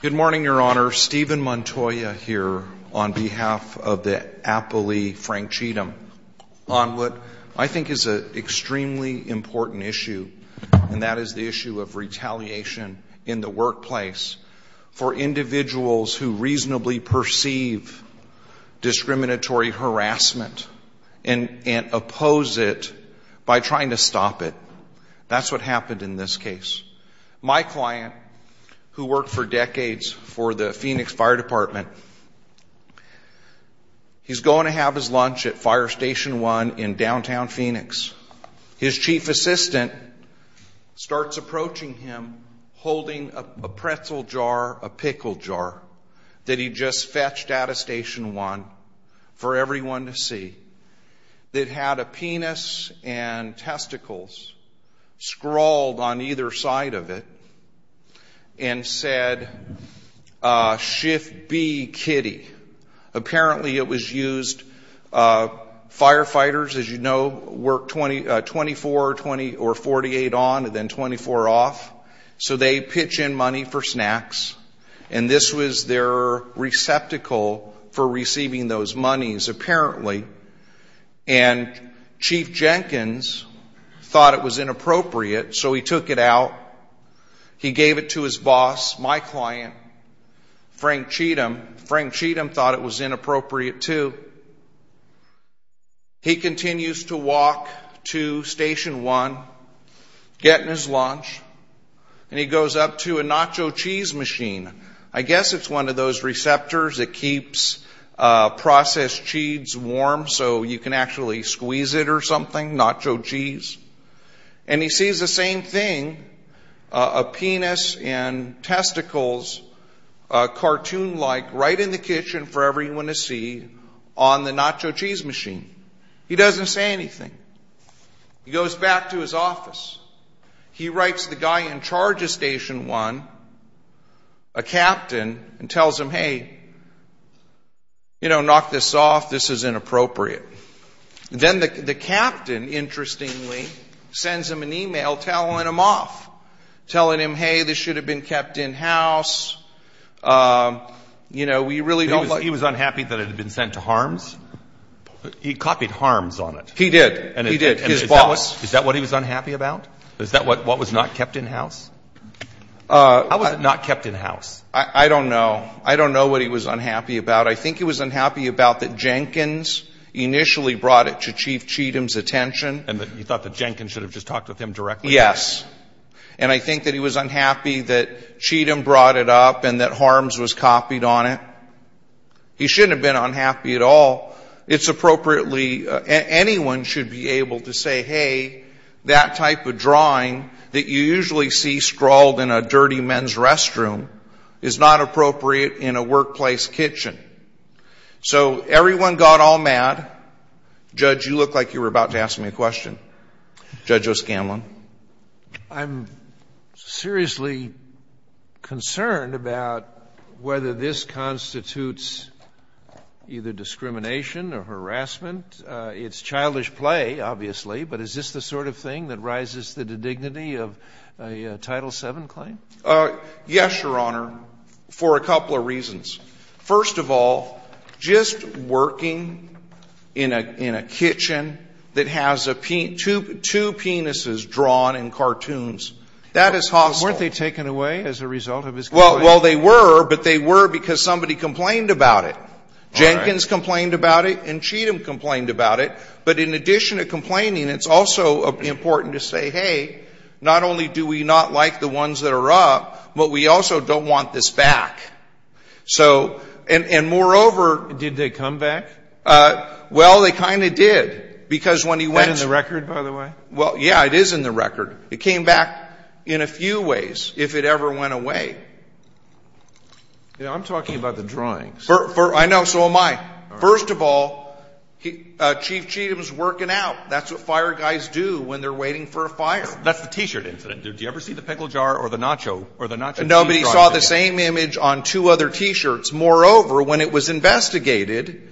Good morning, Your Honor. Stephen Montoya here on behalf of the Appley Frank Cheatham on what I think is an extremely important issue, and that is the issue of retaliation in the workplace for individuals who reasonably perceive discriminatory harassment and oppose it by trying to stop it. That's what happened in this case. My client, who worked for decades for the Phoenix Fire Department, he's going to have his lunch at Fire Station 1 in downtown Phoenix. His chief assistant starts approaching him holding a pretzel jar, a pickle jar that he just fetched out of Station 1 for everyone to see, that had a penis and testicles scrawled on either side of it, and said, shift B, kitty. Apparently it was used, firefighters, as you know, work 24 or 48 on and then 24 off, so they pitch in money for snacks, and this was their receptacle for receiving those monies, apparently. And Chief Jenkins thought it was inappropriate, so he took it out. He gave it to his boss, my client, Frank Cheatham. Frank Cheatham thought it was inappropriate, too. He continues to walk to Station 1, getting his lunch, and he goes up to a nacho cheese machine. I guess it's one of those receptors that keeps processed cheese warm so you can actually squeeze it or something, nacho cheese. And he sees the same thing, a penis and testicles, cartoon-like, right in the kitchen for everyone to see on the nacho cheese machine. He doesn't say anything. He goes back to his office. He writes the guy in charge of Station 1, a captain, and tells him, hey, you know, knock this off, this is inappropriate. Then the captain, interestingly, sends him an e-mail telling him off, telling him, hey, this should have been kept in-house, you know, we really don't like it. But he was unhappy that it had been sent to HARMS? He copied HARMS on it. He did. He did. His boss. And is that what he was unhappy about? Is that what was not kept in-house? How was it not kept in-house? I don't know. I don't know what he was unhappy about. I think he was unhappy about that Jenkins initially brought it to Chief Cheatham's attention. And you thought that Jenkins should have just talked with him directly? Yes. And I think that he was unhappy that Cheatham brought it up and that HARMS was He shouldn't have been unhappy at all. It's appropriately — anyone should be able to say, hey, that type of drawing that you usually see scrawled in a dirty men's restroom is not appropriate in a workplace kitchen. So everyone got all mad. Judge, you looked like you were about to ask me a question. Judge O'Scanlan. I'm seriously concerned about whether this constitutes either discrimination or harassment. It's childish play, obviously, but is this the sort of thing that rises to the dignity of a Title VII claim? Yes, Your Honor, for a couple of reasons. First of all, just working in a kitchen that has two penises drawn in cartoons, that is hostile. Weren't they taken away as a result of his — Well, they were, but they were because somebody complained about it. Jenkins complained about it and Cheatham complained about it. But in addition to complaining, it's also important to say, hey, not only do we not like the ones that are up, but we also don't want this back. So — and moreover — Did they come back? Well, they kind of did, because when he went — Is that in the record, by the way? Well, yeah, it is in the record. It came back in a few ways, if it ever went away. You know, I'm talking about the drawings. I know, so am I. First of all, Chief Cheatham's working out. That's what fire guys do when they're waiting for a fire. That's the T-shirt incident. Did you ever see the pickle jar or the nacho or the nacho — Nobody saw the same image on two other T-shirts. Moreover, when it was investigated,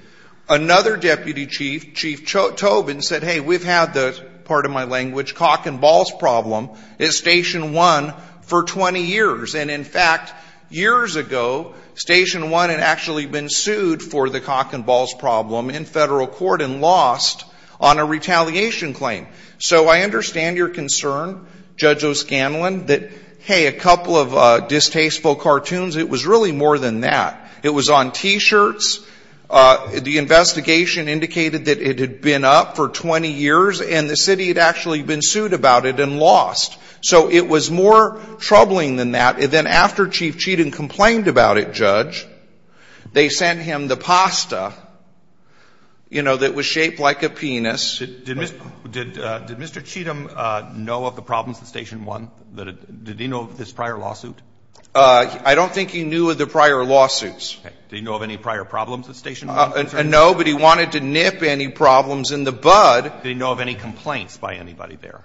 another deputy chief, Chief Tobin, said, hey, we've had the — pardon my language — cock-and-balls problem at Station 1 for 20 years. And in fact, years ago, Station 1 had actually been sued for the cock-and-balls problem in federal court and lost on a retaliation claim. So I understand your concern, Judge O'Scanlan, that, hey, a couple of distasteful cartoons, it was really more than that. It was on T-shirts. The investigation indicated that it had been up for 20 years, and the city had actually been sued about it and lost. So it was more troubling than that. Then after Chief Cheatham complained about it, Judge, they sent him the pasta, you know, that was shaped like a penis — Did Mr. — did Mr. Cheatham know of the problems at Station 1? Did he know of this prior lawsuit? I don't think he knew of the prior lawsuits. Okay. Did he know of any prior problems at Station 1? No, but he wanted to nip any problems in the bud. Did he know of any complaints by anybody there?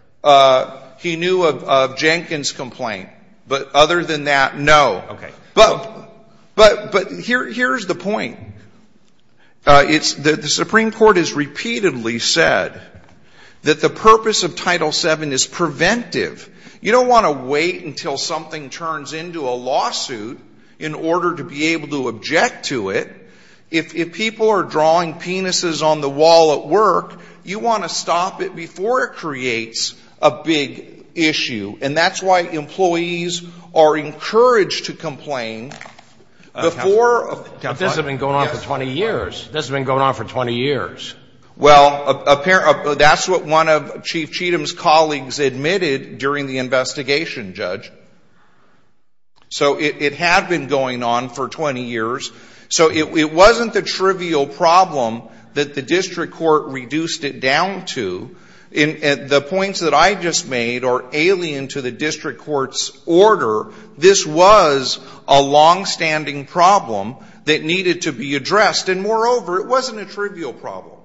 He knew of Jenkins' complaint. But other than that, no. Okay. But here's the point. It's — the Supreme Court has repeatedly said that the purpose of Title VII is preventive. You don't want to wait until something turns into a lawsuit in order to be able to object to it. If people are drawing penises on the wall at work, you want to stop it before it creates a big issue. And that's why employees are encouraged to complain before — But this has been going on for 20 years. This has been going on for 20 years. Well, apparently — that's what one of Chief Cheatham's colleagues admitted during the investigation, Judge. So it had been going on for 20 years. So it wasn't the trivial problem that the district court reduced it down to. The points that I just made are alien to the district court's order. This was a longstanding problem that needed to be addressed. And moreover, it wasn't a trivial problem.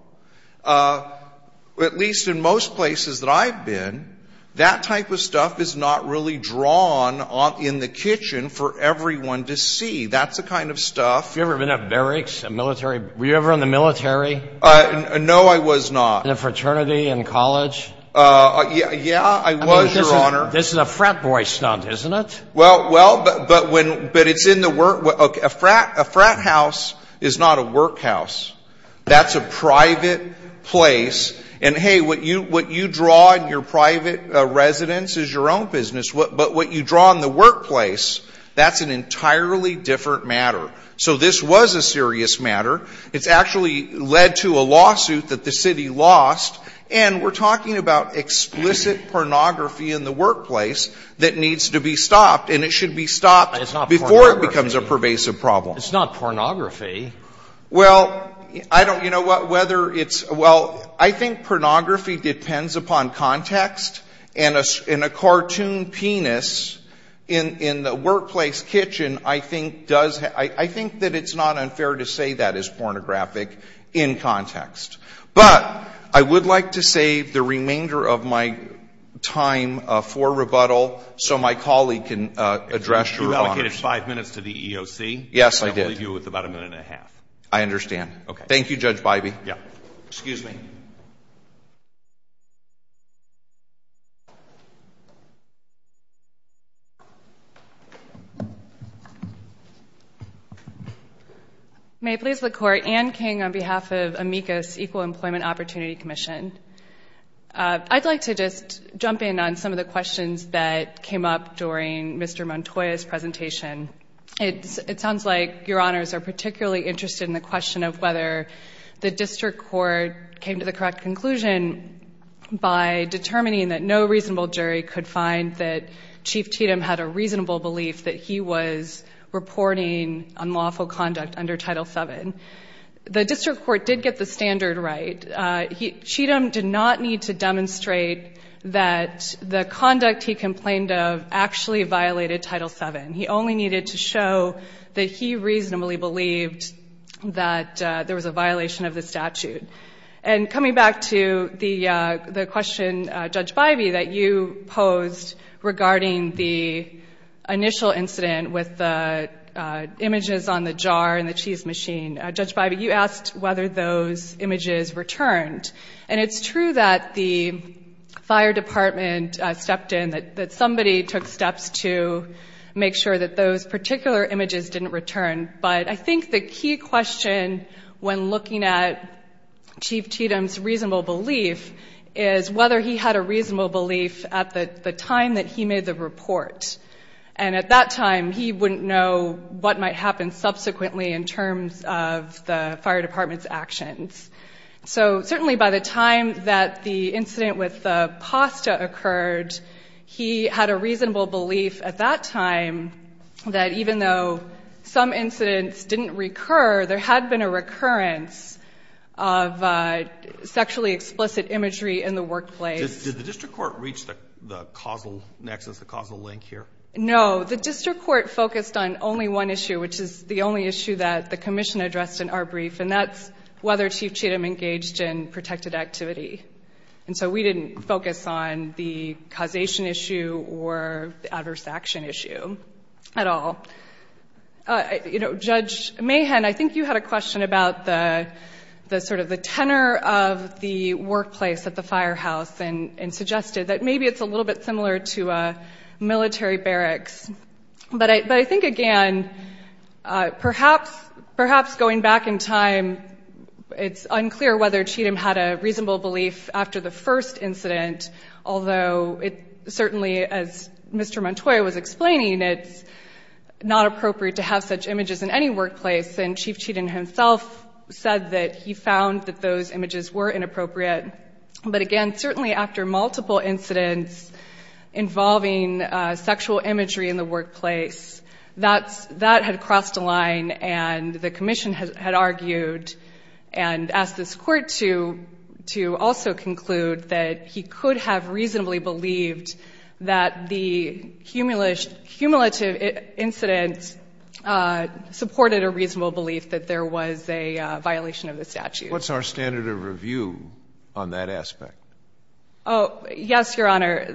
At least in most places that I've been, that type of stuff is not really drawn in the kitchen for everyone to see. That's the kind of stuff — Have you ever been at barracks, a military — were you ever in the military? No, I was not. In a fraternity in college? Yeah, I was, Your Honor. This is a frat boy stunt, isn't it? Well, but when — but it's in the — a frat house is not a workhouse. That's a private place. And, hey, what you draw in your private residence is your own business. But what you draw in the workplace, that's an entirely different matter. So this was a serious matter. It's actually led to a lawsuit that the city lost. And we're talking about explicit pornography in the workplace that needs to be stopped. And it should be stopped before it becomes a pervasive problem. It's not pornography. Well, I don't — you know what, whether it's — well, I think pornography depends upon context. And a cartoon penis in the workplace kitchen I think does — I think is pornographic in context. But I would like to save the remainder of my time for rebuttal so my colleague can address Your Honor's — You allocated five minutes to the EOC. Yes, I did. I'll leave you with about a minute and a half. I understand. Okay. Thank you, Judge Bybee. Yeah. Excuse me. May it please the Court, Anne King on behalf of Amicus Equal Employment Opportunity Commission. I'd like to just jump in on some of the questions that came up during Mr. Montoya's presentation. It sounds like Your Honors are particularly interested in the question of whether the statute violated Title VII. And I'll begin by determining that no reasonable jury could find that Chief Cheatham had a reasonable belief that he was reporting unlawful conduct under Title VII. The district court did get the standard right. Cheatham did not need to demonstrate that the conduct he complained of actually violated Title VII. He only needed to show that he reasonably believed that there was a violation of the statute. And coming back to the question, Judge Bybee, that you posed regarding the initial incident with the images on the jar and the cheese machine, Judge Bybee, you asked whether those images returned. And it's true that the fire department stepped in, that somebody took those particular images, didn't return. But I think the key question when looking at Chief Cheatham's reasonable belief is whether he had a reasonable belief at the time that he made the report. And at that time, he wouldn't know what might happen subsequently in terms of the fire department's actions. So certainly by the time that the incident with the pasta occurred, he had a reasonable belief at that time that even though some incidents didn't recur, there had been a recurrence of sexually explicit imagery in the workplace. Did the district court reach the causal nexus, the causal link here? No. The district court focused on only one issue, which is the only issue that the commission addressed in our brief, and that's whether Chief Cheatham engaged in protected activity. And so we didn't focus on the causation issue or the adverse action issue at all. You know, Judge Mahan, I think you had a question about the sort of the tenor of the workplace at the firehouse and suggested that maybe it's a little bit similar to military barracks. But I think, again, perhaps going back in time, it's unclear whether Cheatham had a reasonable belief after the first incident, although it certainly, as Mr. Montoya was explaining, it's not appropriate to have such images in any workplace. And Chief Cheatham himself said that he found that those images were inappropriate. But again, certainly after multiple incidents involving sexual imagery in the workplace, that had crossed a line and the commission had argued and asked this Court to also conclude that he could have reasonably believed that the cumulative incident supported a reasonable belief that there was a violation of the statute. What's our standard of review on that aspect? Oh, yes, Your Honor.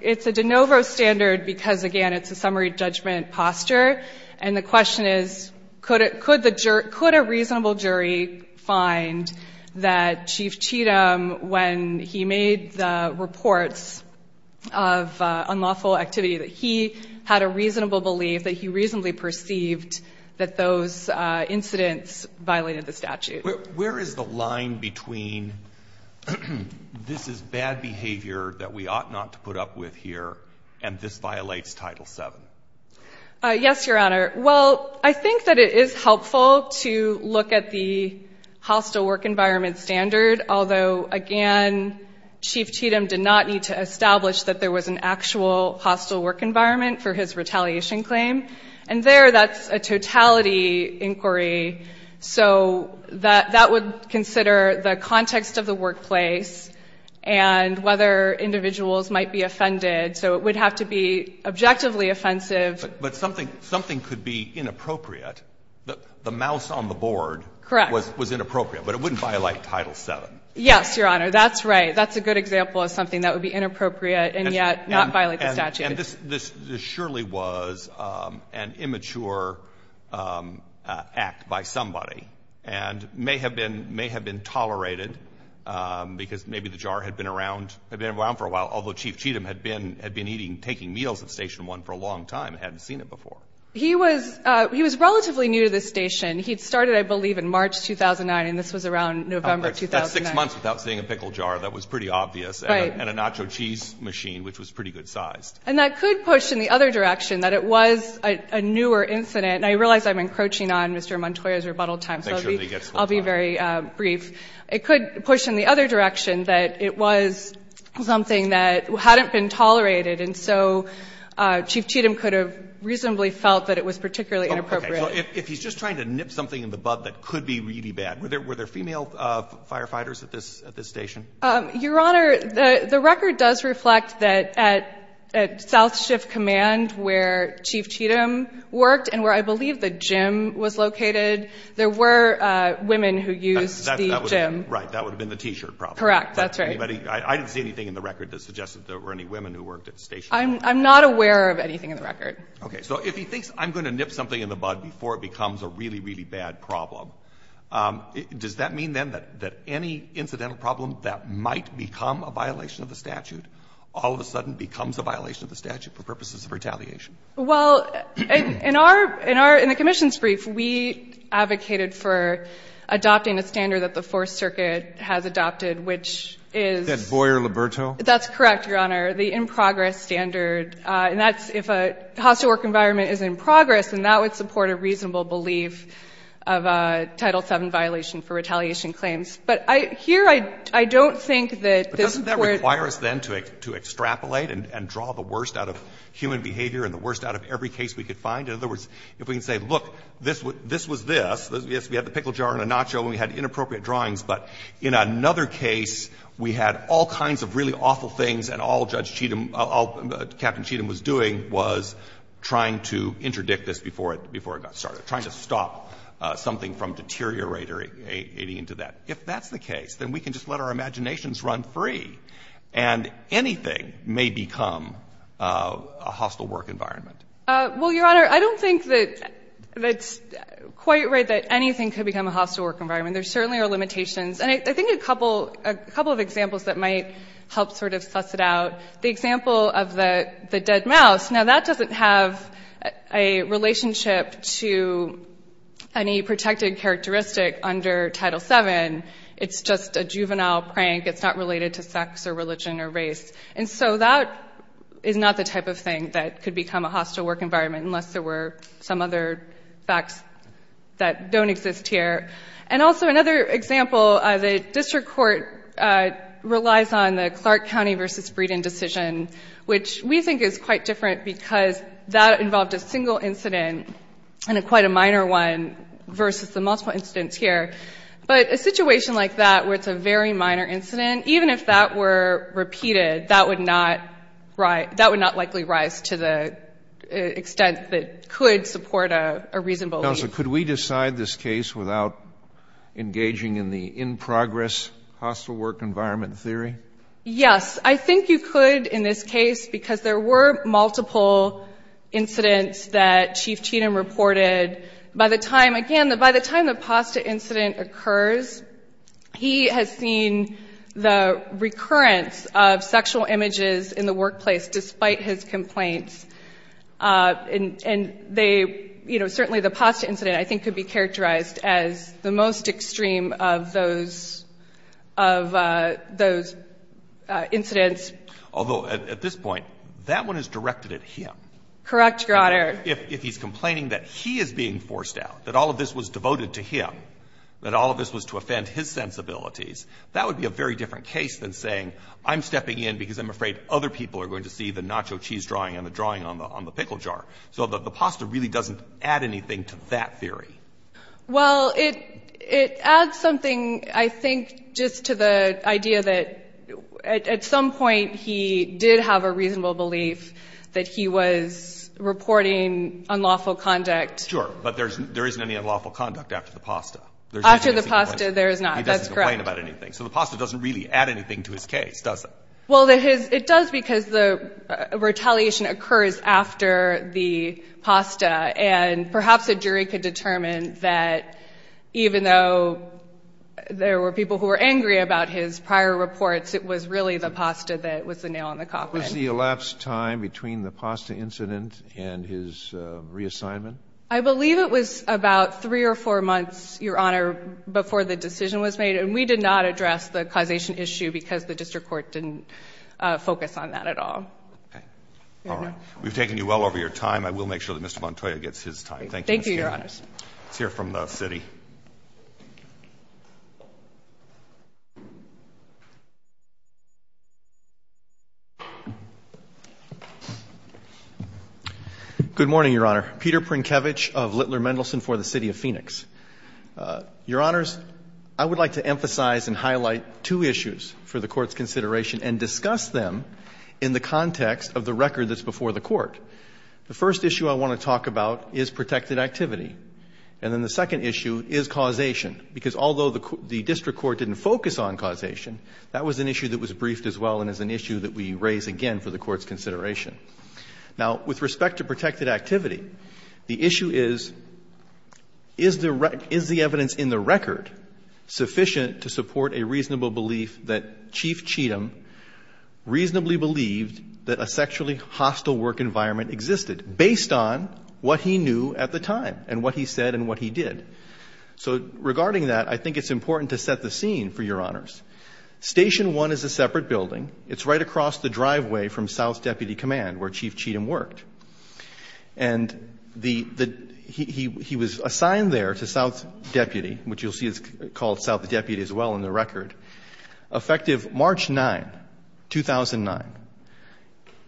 It's a de novo standard because, again, it's a summary judgment posture. And the question is, could a reasonable jury find that Chief Cheatham, when he made the reports of unlawful activity, that he had a reasonable belief, that he reasonably perceived that those incidents violated the statute? Where is the line between this is bad behavior that we ought not to put up with here and this violates Title VII? Yes, Your Honor. Well, I think that it is helpful to look at the hostile work environment standard, although, again, Chief Cheatham did not need to establish that there was an actual hostile work That would consider the context of the workplace and whether individuals might be offended. So it would have to be objectively offensive. But something could be inappropriate. The mouse on the board was inappropriate, but it wouldn't violate Title VII. Yes, Your Honor. That's right. That's a good example of something that would be inappropriate and yet not violate the statute. And this surely was an immature act by somebody and may have been tolerated because maybe the jar had been around for a while, although Chief Cheatham had been eating, taking meals at Station 1 for a long time and hadn't seen it before. He was relatively new to the station. He'd started, I believe, in March 2009, and this was around November 2009. That's six months without seeing a pickle jar. That was pretty obvious. Right. And a nacho cheese machine, which was pretty good-sized. And that could push in the other direction that it was a newer incident. And I realize I'm encroaching on Mr. Montoya's rebuttal time, so I'll be very brief. It could push in the other direction that it was something that hadn't been tolerated, and so Chief Cheatham could have reasonably felt that it was particularly inappropriate. Okay. So if he's just trying to nip something in the bud that could be really bad, were there female firefighters at this station? Your Honor, the record does reflect that at South Shift Command, where Chief Cheatham worked and where I believe the gym was located, there were women who used the gym. Right. That would have been the t-shirt problem. Correct. That's right. I didn't see anything in the record that suggested there were any women who worked at Station 1. I'm not aware of anything in the record. Okay. So if he thinks I'm going to nip something in the bud before it becomes a really, really bad problem, does that mean then that any incidental problem that might become a violation of the statute all of a sudden becomes a violation of the statute for purposes of retaliation? Well, in our — in the Commission's brief, we advocated for adopting a standard that the Fourth Circuit has adopted, which is — Is that Boyer-Liberto? That's correct, Your Honor, the in-progress standard. And that's if a hostile work environment is in progress, and that would support a reasonable belief of a Title VII violation for retaliation claims. But here, I don't think that this would — But doesn't that require us then to extrapolate and draw the worst out of human behavior and the worst out of every case we could find? In other words, if we can say, look, this was this. Yes, we had the pickle jar and a nacho and we had inappropriate drawings, but in another case, we had all kinds of really awful things and all Judge Cheatham — all Captain Cheatham was doing was trying to interdict this before it got started, trying to stop something from deteriorating into that. If that's the case, then we can just let our imaginations run free, and anything may become a hostile work environment. Well, Your Honor, I don't think that that's quite right, that anything could become a hostile work environment. There certainly are limitations. And I think a couple of examples that might help sort of suss it out. The example of the dead mouse. Now, that doesn't have a relationship to any protected characteristic under Title VII. It's just a juvenile prank. It's not related to sex or religion or race. And so that is not the type of thing that could become a hostile work environment, unless there were some other facts that don't exist here. And also another example, the district court relies on the Clark County versus Breeden decision, which we think is quite different because that involved a single incident and quite a minor one versus the multiple incidents here. But a situation like that where it's a very minor incident, even if that were repeated, that would not likely rise to the extent that could support a reasonable lead. Counsel, could we decide this case without engaging in the in-progress hostile work environment theory? Yes. I think you could in this case because there were multiple incidents that Chief Cheatham reported. By the time, again, by the time the pasta incident occurs, he has seen the recurrence of sexual images in the workplace despite his complaints. And they, you know, certainly the pasta incident I think could be characterized as the most extreme of those incidents. Although at this point, that one is directed at him. Correct, Your Honor. If he's complaining that he is being forced out, that all of this was devoted to him, that all of this was to offend his sensibilities, that would be a very different case than saying I'm stepping in because I'm afraid other people are going to see the drawing on the pickle jar. So the pasta really doesn't add anything to that theory. Well, it adds something, I think, just to the idea that at some point he did have a reasonable belief that he was reporting unlawful conduct. Sure. But there isn't any unlawful conduct after the pasta. After the pasta, there is not. That's correct. He doesn't complain about anything. So the pasta doesn't really add anything to his case, does it? Well, it does because the retaliation occurs after the pasta. And perhaps a jury could determine that even though there were people who were angry about his prior reports, it was really the pasta that was the nail on the coffin. What was the elapsed time between the pasta incident and his reassignment? I believe it was about three or four months, Your Honor, before the decision was made. And we did not address the causation issue because the district court didn't focus on that at all. Okay. All right. We've taken you well over your time. I will make sure that Mr. Montoya gets his time. Thank you, Ms. King. Thank you, Your Honor. Let's hear from the city. Good morning, Your Honor. Peter Prinkevich of Littler Mendelson for the City of Phoenix. Your Honors, I would like to emphasize and highlight two issues for the Court's consideration and discuss them in the context of the record that's before the Court. The first issue I want to talk about is protected activity. And then the second issue is causation, because although the district court didn't focus on causation, that was an issue that was briefed as well and is an issue that we raise again for the Court's consideration. Now, with respect to protected activity, the issue is, is the evidence in the record sufficient to support a reasonable belief that Chief Cheatham reasonably believed that a sexually hostile work environment existed based on what he knew at the time and what he said and what he did? So regarding that, I think it's important to set the scene for Your Honors. Station 1 is a separate building. It's right across the driveway from South Deputy Command, where Chief Cheatham worked. And he was assigned there to South Deputy, which you'll see is called South Deputy as well in the record, effective March 9, 2009.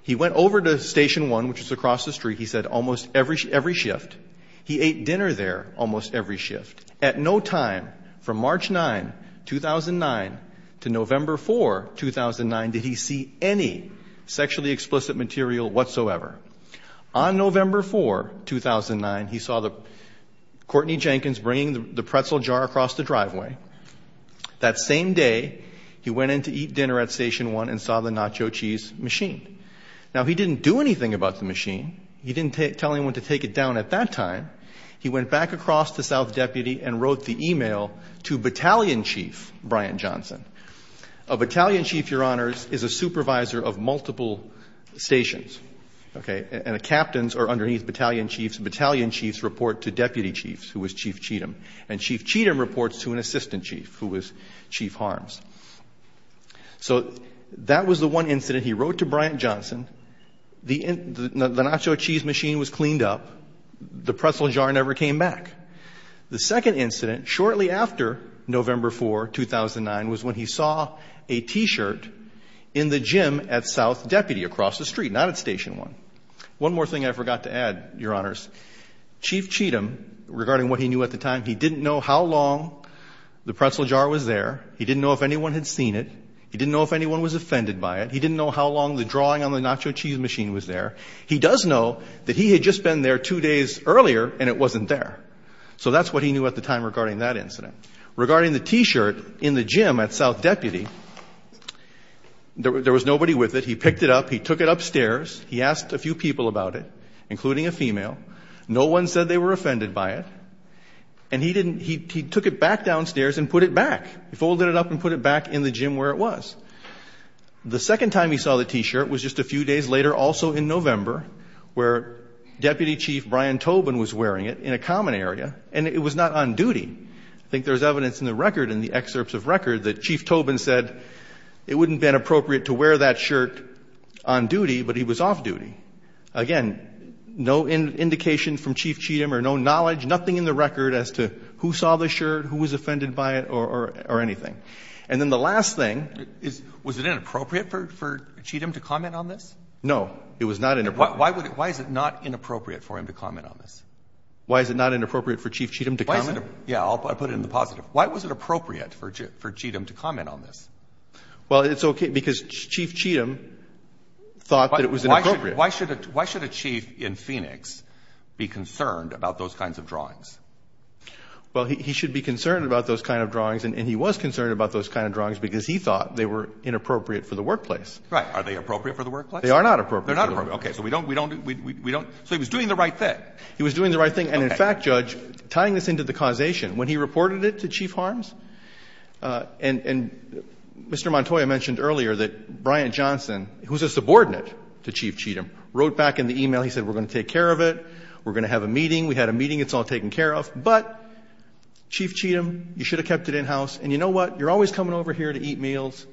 He went over to Station 1, which is across the street, he said, almost every shift. He ate dinner there almost every shift. At no time from March 9, 2009 to November 4, 2009, did he see any sexually explicit material whatsoever. On November 4, 2009, he saw Courtney Jenkins bringing the pretzel jar across the driveway. That same day, he went in to eat dinner at Station 1 and saw the nacho cheese machine. Now, he didn't do anything about the machine. He didn't tell anyone to take it down at that time. He went back across to South Deputy and wrote the email to Battalion Chief Brian Johnson. A Battalion Chief, Your Honors, is a supervisor of multiple stations. Okay? And the captains are underneath Battalion Chiefs. Battalion Chiefs report to Deputy Chiefs, who was Chief Cheatham. And Chief Cheatham reports to an Assistant Chief, who was Chief Harms. So that was the one incident. He wrote to Brian Johnson. The nacho cheese machine was cleaned up. The pretzel jar never came back. The second incident, shortly after November 4, 2009, was when he saw a T-shirt in the gym at South Deputy across the street, not at Station 1. One more thing I forgot to add, Your Honors. Chief Cheatham, regarding what he knew at the time, he didn't know how long the pretzel jar was there. He didn't know if anyone had seen it. He didn't know if anyone was offended by it. He didn't know how long the drawing on the nacho cheese machine was there. He does know that he had just been there two days earlier, and it wasn't there. So that's what he knew at the time regarding that incident. Regarding the T-shirt in the gym at South Deputy, there was nobody with it. He picked it up. He took it upstairs. He asked a few people about it, including a female. No one said they were offended by it. And he took it back downstairs and put it back. He folded it up and put it back in the gym where it was. The second time he saw the T-shirt was just a few days later, also in November, where Deputy Chief Brian Tobin was wearing it in a common area, and it was not on duty. I think there's evidence in the record, in the excerpts of record, that Chief Tobin said it wouldn't have been appropriate to wear that shirt on duty, but he was off duty. Again, no indication from Chief Cheatham or no knowledge, nothing in the record as to who saw the shirt, who was offended by it, or anything. And then the last thing is... Was it inappropriate for Cheatham to comment on this? No, it was not inappropriate. Why is it not inappropriate for him to comment on this? Why is it not inappropriate for Chief Cheatham to comment? Yeah, I'll put it in the positive. Why was it appropriate for Cheatham to comment on this? Well, it's okay because Chief Cheatham thought that it was inappropriate. Why should a chief in Phoenix be concerned about those kinds of drawings? Well, he should be concerned about those kind of drawings, and he was concerned about those kind of drawings because he thought they were inappropriate for the workplace. Right. Are they appropriate for the workplace? They are not appropriate. They're not appropriate. Okay. So we don't do we don't so he was doing the right thing. He was doing the right thing. And in fact, Judge, tying this into the causation, when he reported it to Chief Harms, and Mr. Montoya mentioned earlier that Bryant Johnson, who's a subordinate to Chief Cheatham, wrote back in the e-mail, he said we're going to take care of it, we're going to have a meeting, we had a meeting, it's all taken care of. But Chief Cheatham, you should have kept it in-house. And you know what? You're always coming over here to eat meals.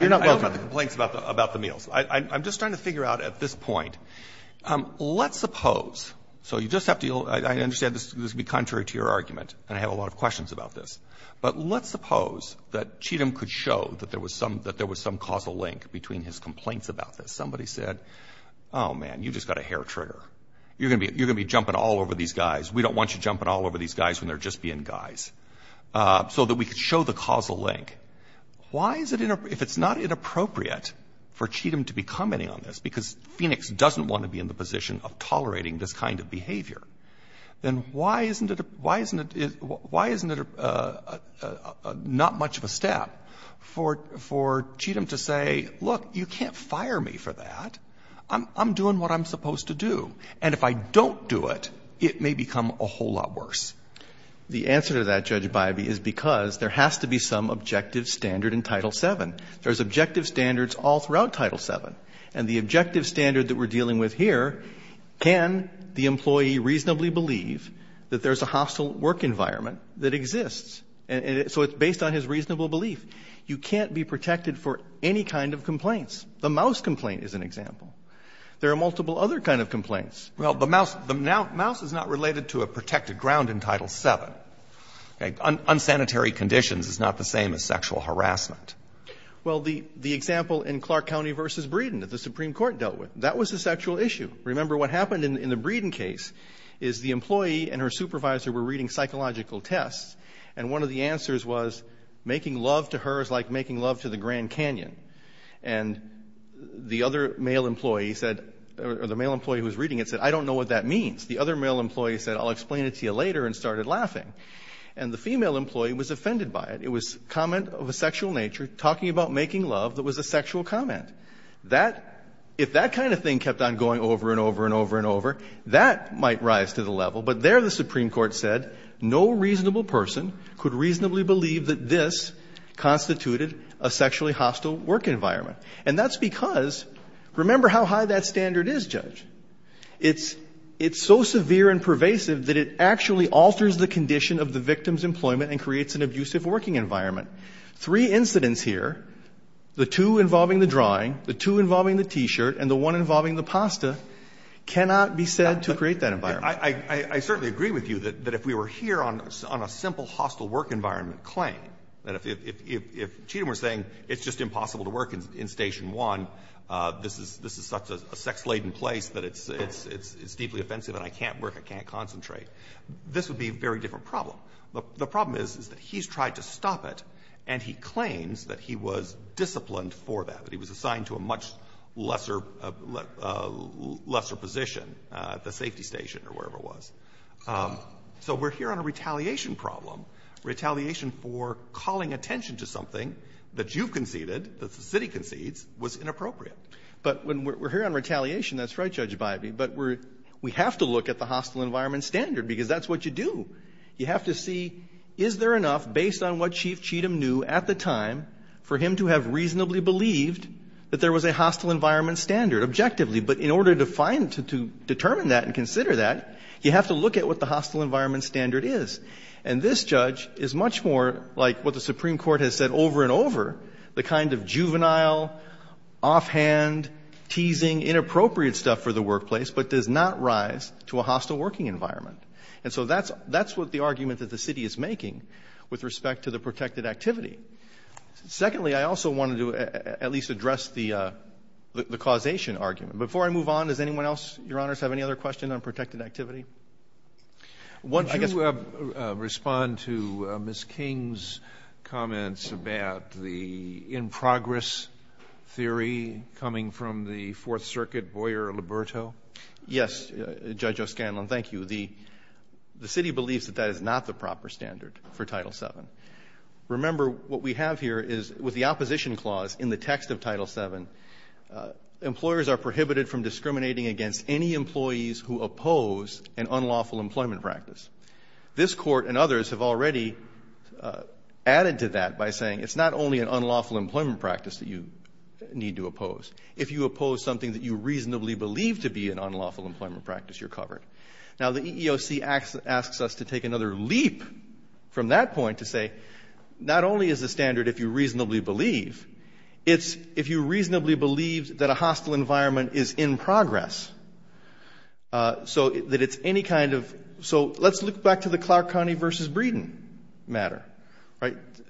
You're not welcome. I know about the complaints about the meals. I'm just trying to figure out at this point, let's suppose, so you just have to I understand this would be contrary to your argument, and I have a lot of questions about this, but let's suppose that Cheatham could show that there was some causal link between his complaints about this. Somebody said, oh, man, you just got a hair trigger. You're going to be jumping all over these guys. We don't want you jumping all over these guys when they're just being guys. So that we could show the causal link. Why is it, if it's not inappropriate for Cheatham to be commenting on this, because Phoenix doesn't want to be in the position of tolerating this kind of behavior, then why isn't it not much of a step for Cheatham to say, look, you can't fire me for that. I'm doing what I'm supposed to do. And if I don't do it, it may become a whole lot worse. The answer to that, Judge Bybee, is because there has to be some objective standard in Title VII. There's objective standards all throughout Title VII. And the objective standard that we're dealing with here, can the employee reasonably believe that there's a hostile work environment that exists? So it's based on his reasonable belief. You can't be protected for any kind of complaints. The mouse complaint is an example. There are multiple other kinds of complaints. Well, the mouse is not related to a protected ground in Title VII. Unsanitary conditions is not the same as sexual harassment. Well, the example in Clark County v. Breeden that the Supreme Court dealt with, that was a sexual issue. Remember, what happened in the Breeden case is the employee and her supervisor were reading psychological tests. And one of the answers was, making love to her is like making love to the Grand Canyon. And the other male employee said, or the male employee who was reading it said, I don't know what that means. The other male employee said, I'll explain it to you later, and started laughing. And the female employee was offended by it. It was a comment of a sexual nature, talking about making love, that was a sexual comment. That, if that kind of thing kept on going over and over and over and over, that might rise to the level. But there the Supreme Court said, no reasonable person could reasonably believe that this was a hostile work environment. And that's because, remember how high that standard is, Judge. It's so severe and pervasive that it actually alters the condition of the victim's employment and creates an abusive working environment. Three incidents here, the two involving the drawing, the two involving the T-shirt, and the one involving the pasta, cannot be said to create that environment. I certainly agree with you that if we were here on a simple hostile work environment claim, that if Cheatham were saying it's just impossible to work in Station 1, this is such a sex-laden place that it's deeply offensive and I can't work, I can't concentrate, this would be a very different problem. The problem is, is that he's tried to stop it, and he claims that he was disciplined for that, that he was assigned to a much lesser position at the safety station or wherever it was. So we're here on a retaliation problem. Retaliation for calling attention to something that you've conceded, that the city concedes, was inappropriate. But when we're here on retaliation, that's right, Judge Bybee, but we have to look at the hostile environment standard, because that's what you do. You have to see is there enough, based on what Chief Cheatham knew at the time, for him to have reasonably believed that there was a hostile environment standard, objectively. But in order to find, to determine that and consider that, you have to look at what the hostile environment standard is. And this judge is much more like what the Supreme Court has said over and over, the kind of juvenile, offhand, teasing, inappropriate stuff for the workplace, but does not rise to a hostile working environment. And so that's what the argument that the city is making with respect to the protected activity. Secondly, I also wanted to at least address the causation argument. Before I move on, does anyone else, Your Honors, have any other questions on protected activity? Kennedy. I guess we have to respond to Ms. King's comments about the in-progress theory coming from the Fourth Circuit, Boyer-Liberto. Yes, Judge O'Scanlon, thank you. The city believes that that is not the proper standard for Title VII. Remember, what we have here is with the opposition clause in the text of Title VII, employers are prohibited from discriminating against any employees who oppose an unlawful employment practice. This Court and others have already added to that by saying it's not only an unlawful employment practice that you need to oppose. If you oppose something that you reasonably believe to be an unlawful employment practice, you're covered. Now, the EEOC asks us to take another leap from that point to say not only is the hostile environment in progress, so let's look back to the Clark County v. Breeden matter.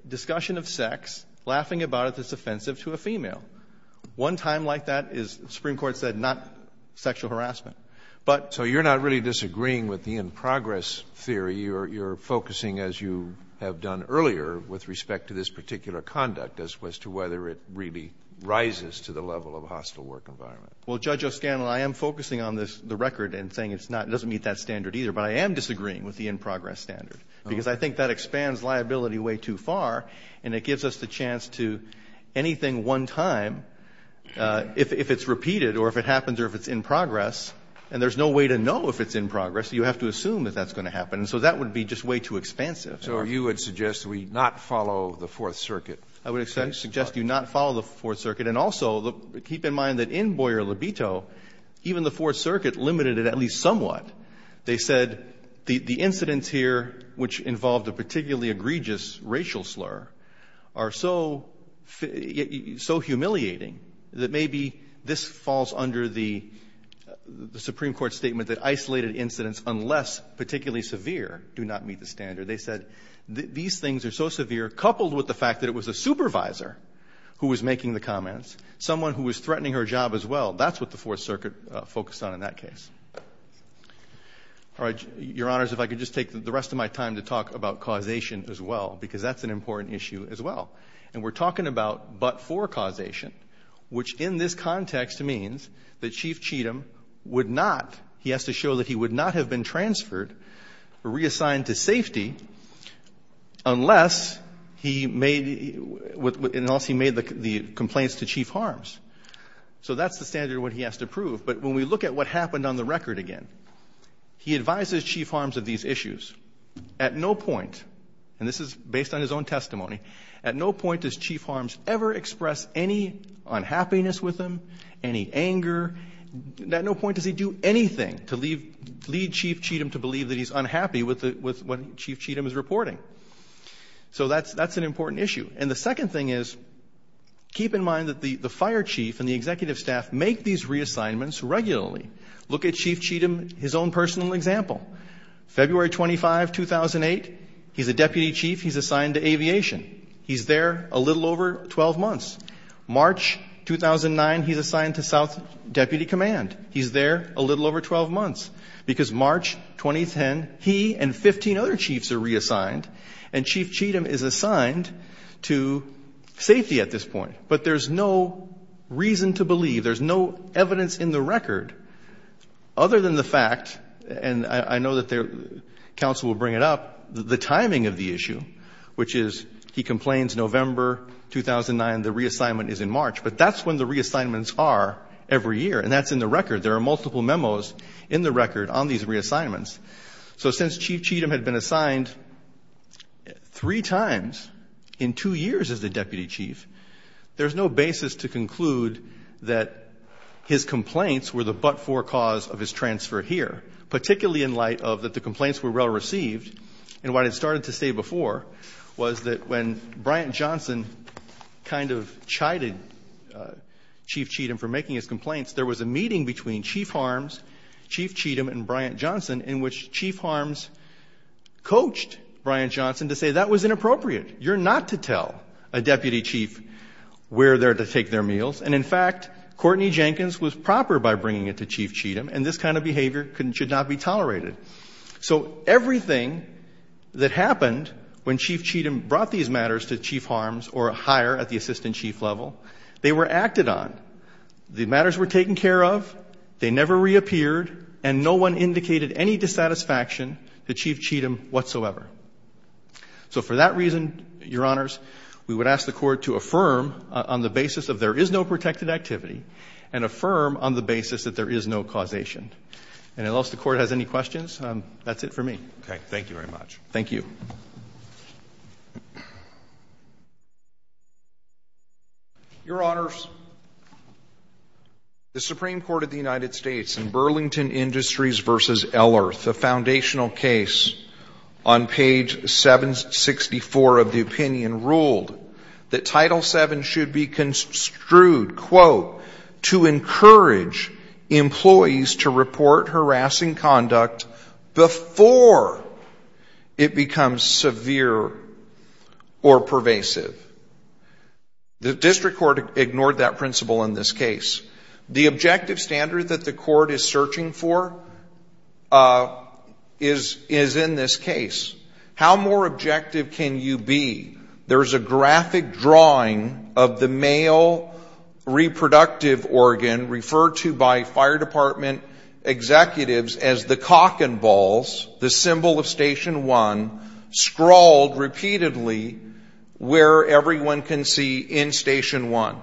Discussion of sex, laughing about it that's offensive to a female. One time like that is, the Supreme Court said, not sexual harassment. So you're not really disagreeing with the in-progress theory. You're focusing, as you have done earlier, with respect to this particular conduct as to whether it really rises to the level of a hostile work environment. Well, Judge O'Scanlon, I am focusing on the record and saying it doesn't meet that standard either, but I am disagreeing with the in-progress standard because I think that expands liability way too far and it gives us the chance to anything one time, if it's repeated or if it happens or if it's in progress, and there's no way to know if it's in progress. You have to assume that that's going to happen. So that would be just way too expansive. So you would suggest we not follow the Fourth Circuit? I would suggest you not follow the Fourth Circuit. And also, keep in mind that in Boyer libido, even the Fourth Circuit limited it at least somewhat. They said the incidents here, which involved a particularly egregious racial slur, are so humiliating that maybe this falls under the Supreme Court statement that isolated incidents, unless particularly severe, do not meet the standard. They said these things are so severe, coupled with the fact that it was a supervisor who was making the comments, someone who was threatening her job as well, that's what the Fourth Circuit focused on in that case. Your Honors, if I could just take the rest of my time to talk about causation as well, because that's an important issue as well. And we're talking about but-for causation, which in this context means that Chief Cheatham would not, he has to show that he would not have been transferred, reassigned to safety, unless he made the complaints to Chief Harms. So that's the standard of what he has to prove. But when we look at what happened on the record again, he advises Chief Harms of these issues. At no point, and this is based on his own testimony, at no point does Chief Harms ever express any unhappiness with him, any anger. At no point does he do anything to lead Chief Cheatham to believe that he's unhappy with what Chief Cheatham is reporting. So that's an important issue. And the second thing is, keep in mind that the fire chief and the executive staff make these reassignments regularly. Look at Chief Cheatham, his own personal example. February 25, 2008, he's a deputy chief, he's assigned to aviation. He's there a little over 12 months. March 2009, he's assigned to South Deputy Command. He's there a little over 12 months. Because March 2010, he and 15 other chiefs are reassigned, and Chief Cheatham is assigned to safety at this point. But there's no reason to believe, there's no evidence in the record, other than the fact, and I know that counsel will bring it up, the timing of the issue, which is, he complains November 2009, the reassignment is in March. But that's when the reassignments are every year, and that's in the record. There are multiple memos in the record on these reassignments. So since Chief Cheatham had been assigned three times in two years as the deputy chief, there's no basis to conclude that his complaints were the but-for cause of his transfer here, particularly in light of that the complaints were well received, and what it started to say before was that when Bryant Johnson kind of chided Chief Cheatham for making his complaints, there was a meeting between Chief Harms, Chief Cheatham, and Bryant Johnson, in which Chief Harms coached Bryant Johnson to say, that was inappropriate. You're not to tell a deputy chief where they're to take their meals. And, in fact, Courtney Jenkins was proper by bringing it to Chief Cheatham, and this kind of behavior should not be tolerated. So everything that happened when Chief Cheatham brought these matters to Chief Harms or higher at the assistant chief level, they were acted on. The matters were taken care of. They never reappeared. And no one indicated any dissatisfaction to Chief Cheatham whatsoever. So for that reason, Your Honors, we would ask the Court to affirm on the basis of there is no protected activity and affirm on the basis that there is no causation. And unless the Court has any questions, that's it for me. Okay. Thank you very much. Thank you. Your Honors, the Supreme Court of the United States in Burlington Industries v. Ellerth, a foundational case on page 764 of the opinion, ruled that Title VII should be construed, quote, to encourage employees to report harassing conduct before it becomes severe or pervasive. The district court ignored that principle in this case. The objective standard that the court is searching for is in this case. How more objective can you be? There's a graphic drawing of the male reproductive organ referred to by Fire Department executives as the cock and balls, the symbol of Station 1, scrawled repeatedly where everyone can see in Station 1.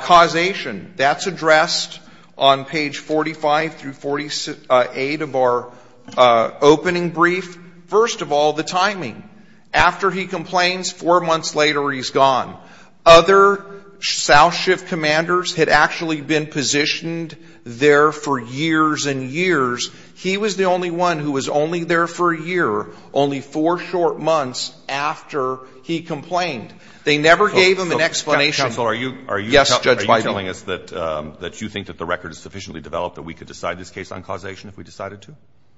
Causation. That's addressed on page 45 through 48 of our opening brief. First of all, the timing. After he complains, four months later he's gone. Other south shift commanders had actually been positioned there for years and years. He was the only one who was only there for a year, only four short months after he complained. They never gave him an explanation. Counsel, are you telling us that you think that the record is sufficiently developed that we could decide this case on causation if we decided to?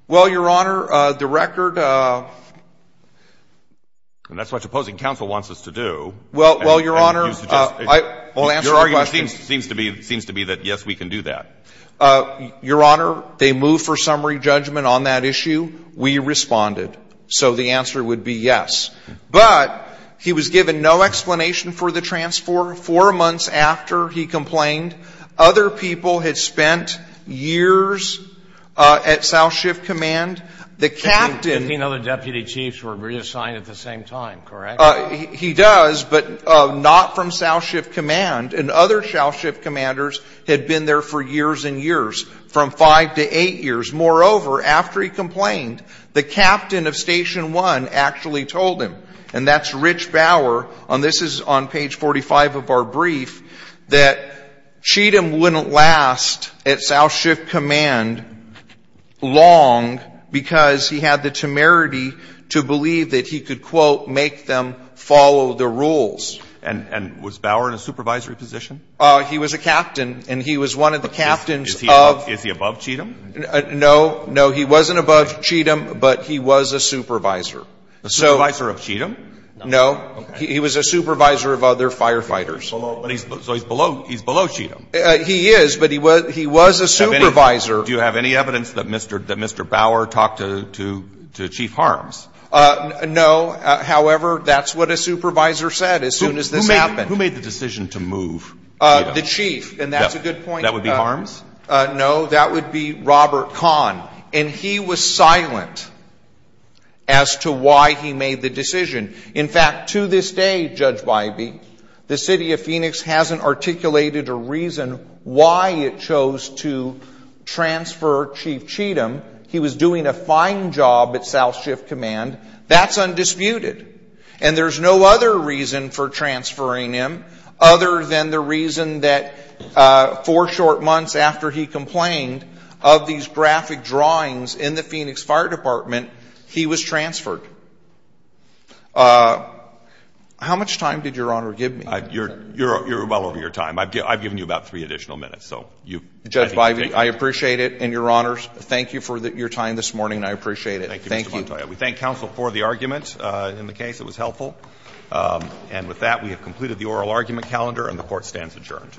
Well, Your Honor, the record. And that's what the opposing counsel wants us to do. Well, Your Honor, I will answer your question. Your argument seems to be that, yes, we can do that. Your Honor, they moved for summary judgment on that issue. We responded. So the answer would be yes. But he was given no explanation for the transfer. Four months after he complained, other people had spent years at south shift command. The captain. Fifteen other deputy chiefs were reassigned at the same time, correct? He does, but not from south shift command. And other south shift commanders had been there for years and years, from five to eight years. Moreover, after he complained, the captain of Station 1 actually told him, and that's Rich Bauer, and this is on page 45 of our brief, that Cheatham wouldn't last at south shift command long because he had the temerity to believe that he could, quote, make them follow the rules. And was Bauer in a supervisory position? He was a captain. And he was one of the captains of. Is he above Cheatham? No. No, he wasn't above Cheatham, but he was a supervisor. A supervisor of Cheatham? No. Okay. He was a supervisor of other firefighters. So he's below Cheatham? He is, but he was a supervisor. Do you have any evidence that Mr. Bauer talked to Chief Harms? No. However, that's what a supervisor said as soon as this happened. Who made the decision to move Cheatham? The chief, and that's a good point. That would be Harms? No, that would be Robert Kahn. And he was silent as to why he made the decision. In fact, to this day, Judge Bybee, the city of Phoenix hasn't articulated a reason why it chose to transfer Chief Cheatham. He was doing a fine job at south shift command. That's undisputed. And there's no other reason for transferring him other than the reason that four short months after he complained of these graphic drawings in the Phoenix Fire Department, he was transferred. How much time did Your Honor give me? You're well over your time. I've given you about three additional minutes. Judge Bybee, I appreciate it. And, Your Honors, thank you for your time this morning. I appreciate it. Thank you. Thank you, Mr. Montoya. We thank counsel for the argument in the case. It was helpful. And with that, we have completed the oral argument calendar, and the Court stands adjourned.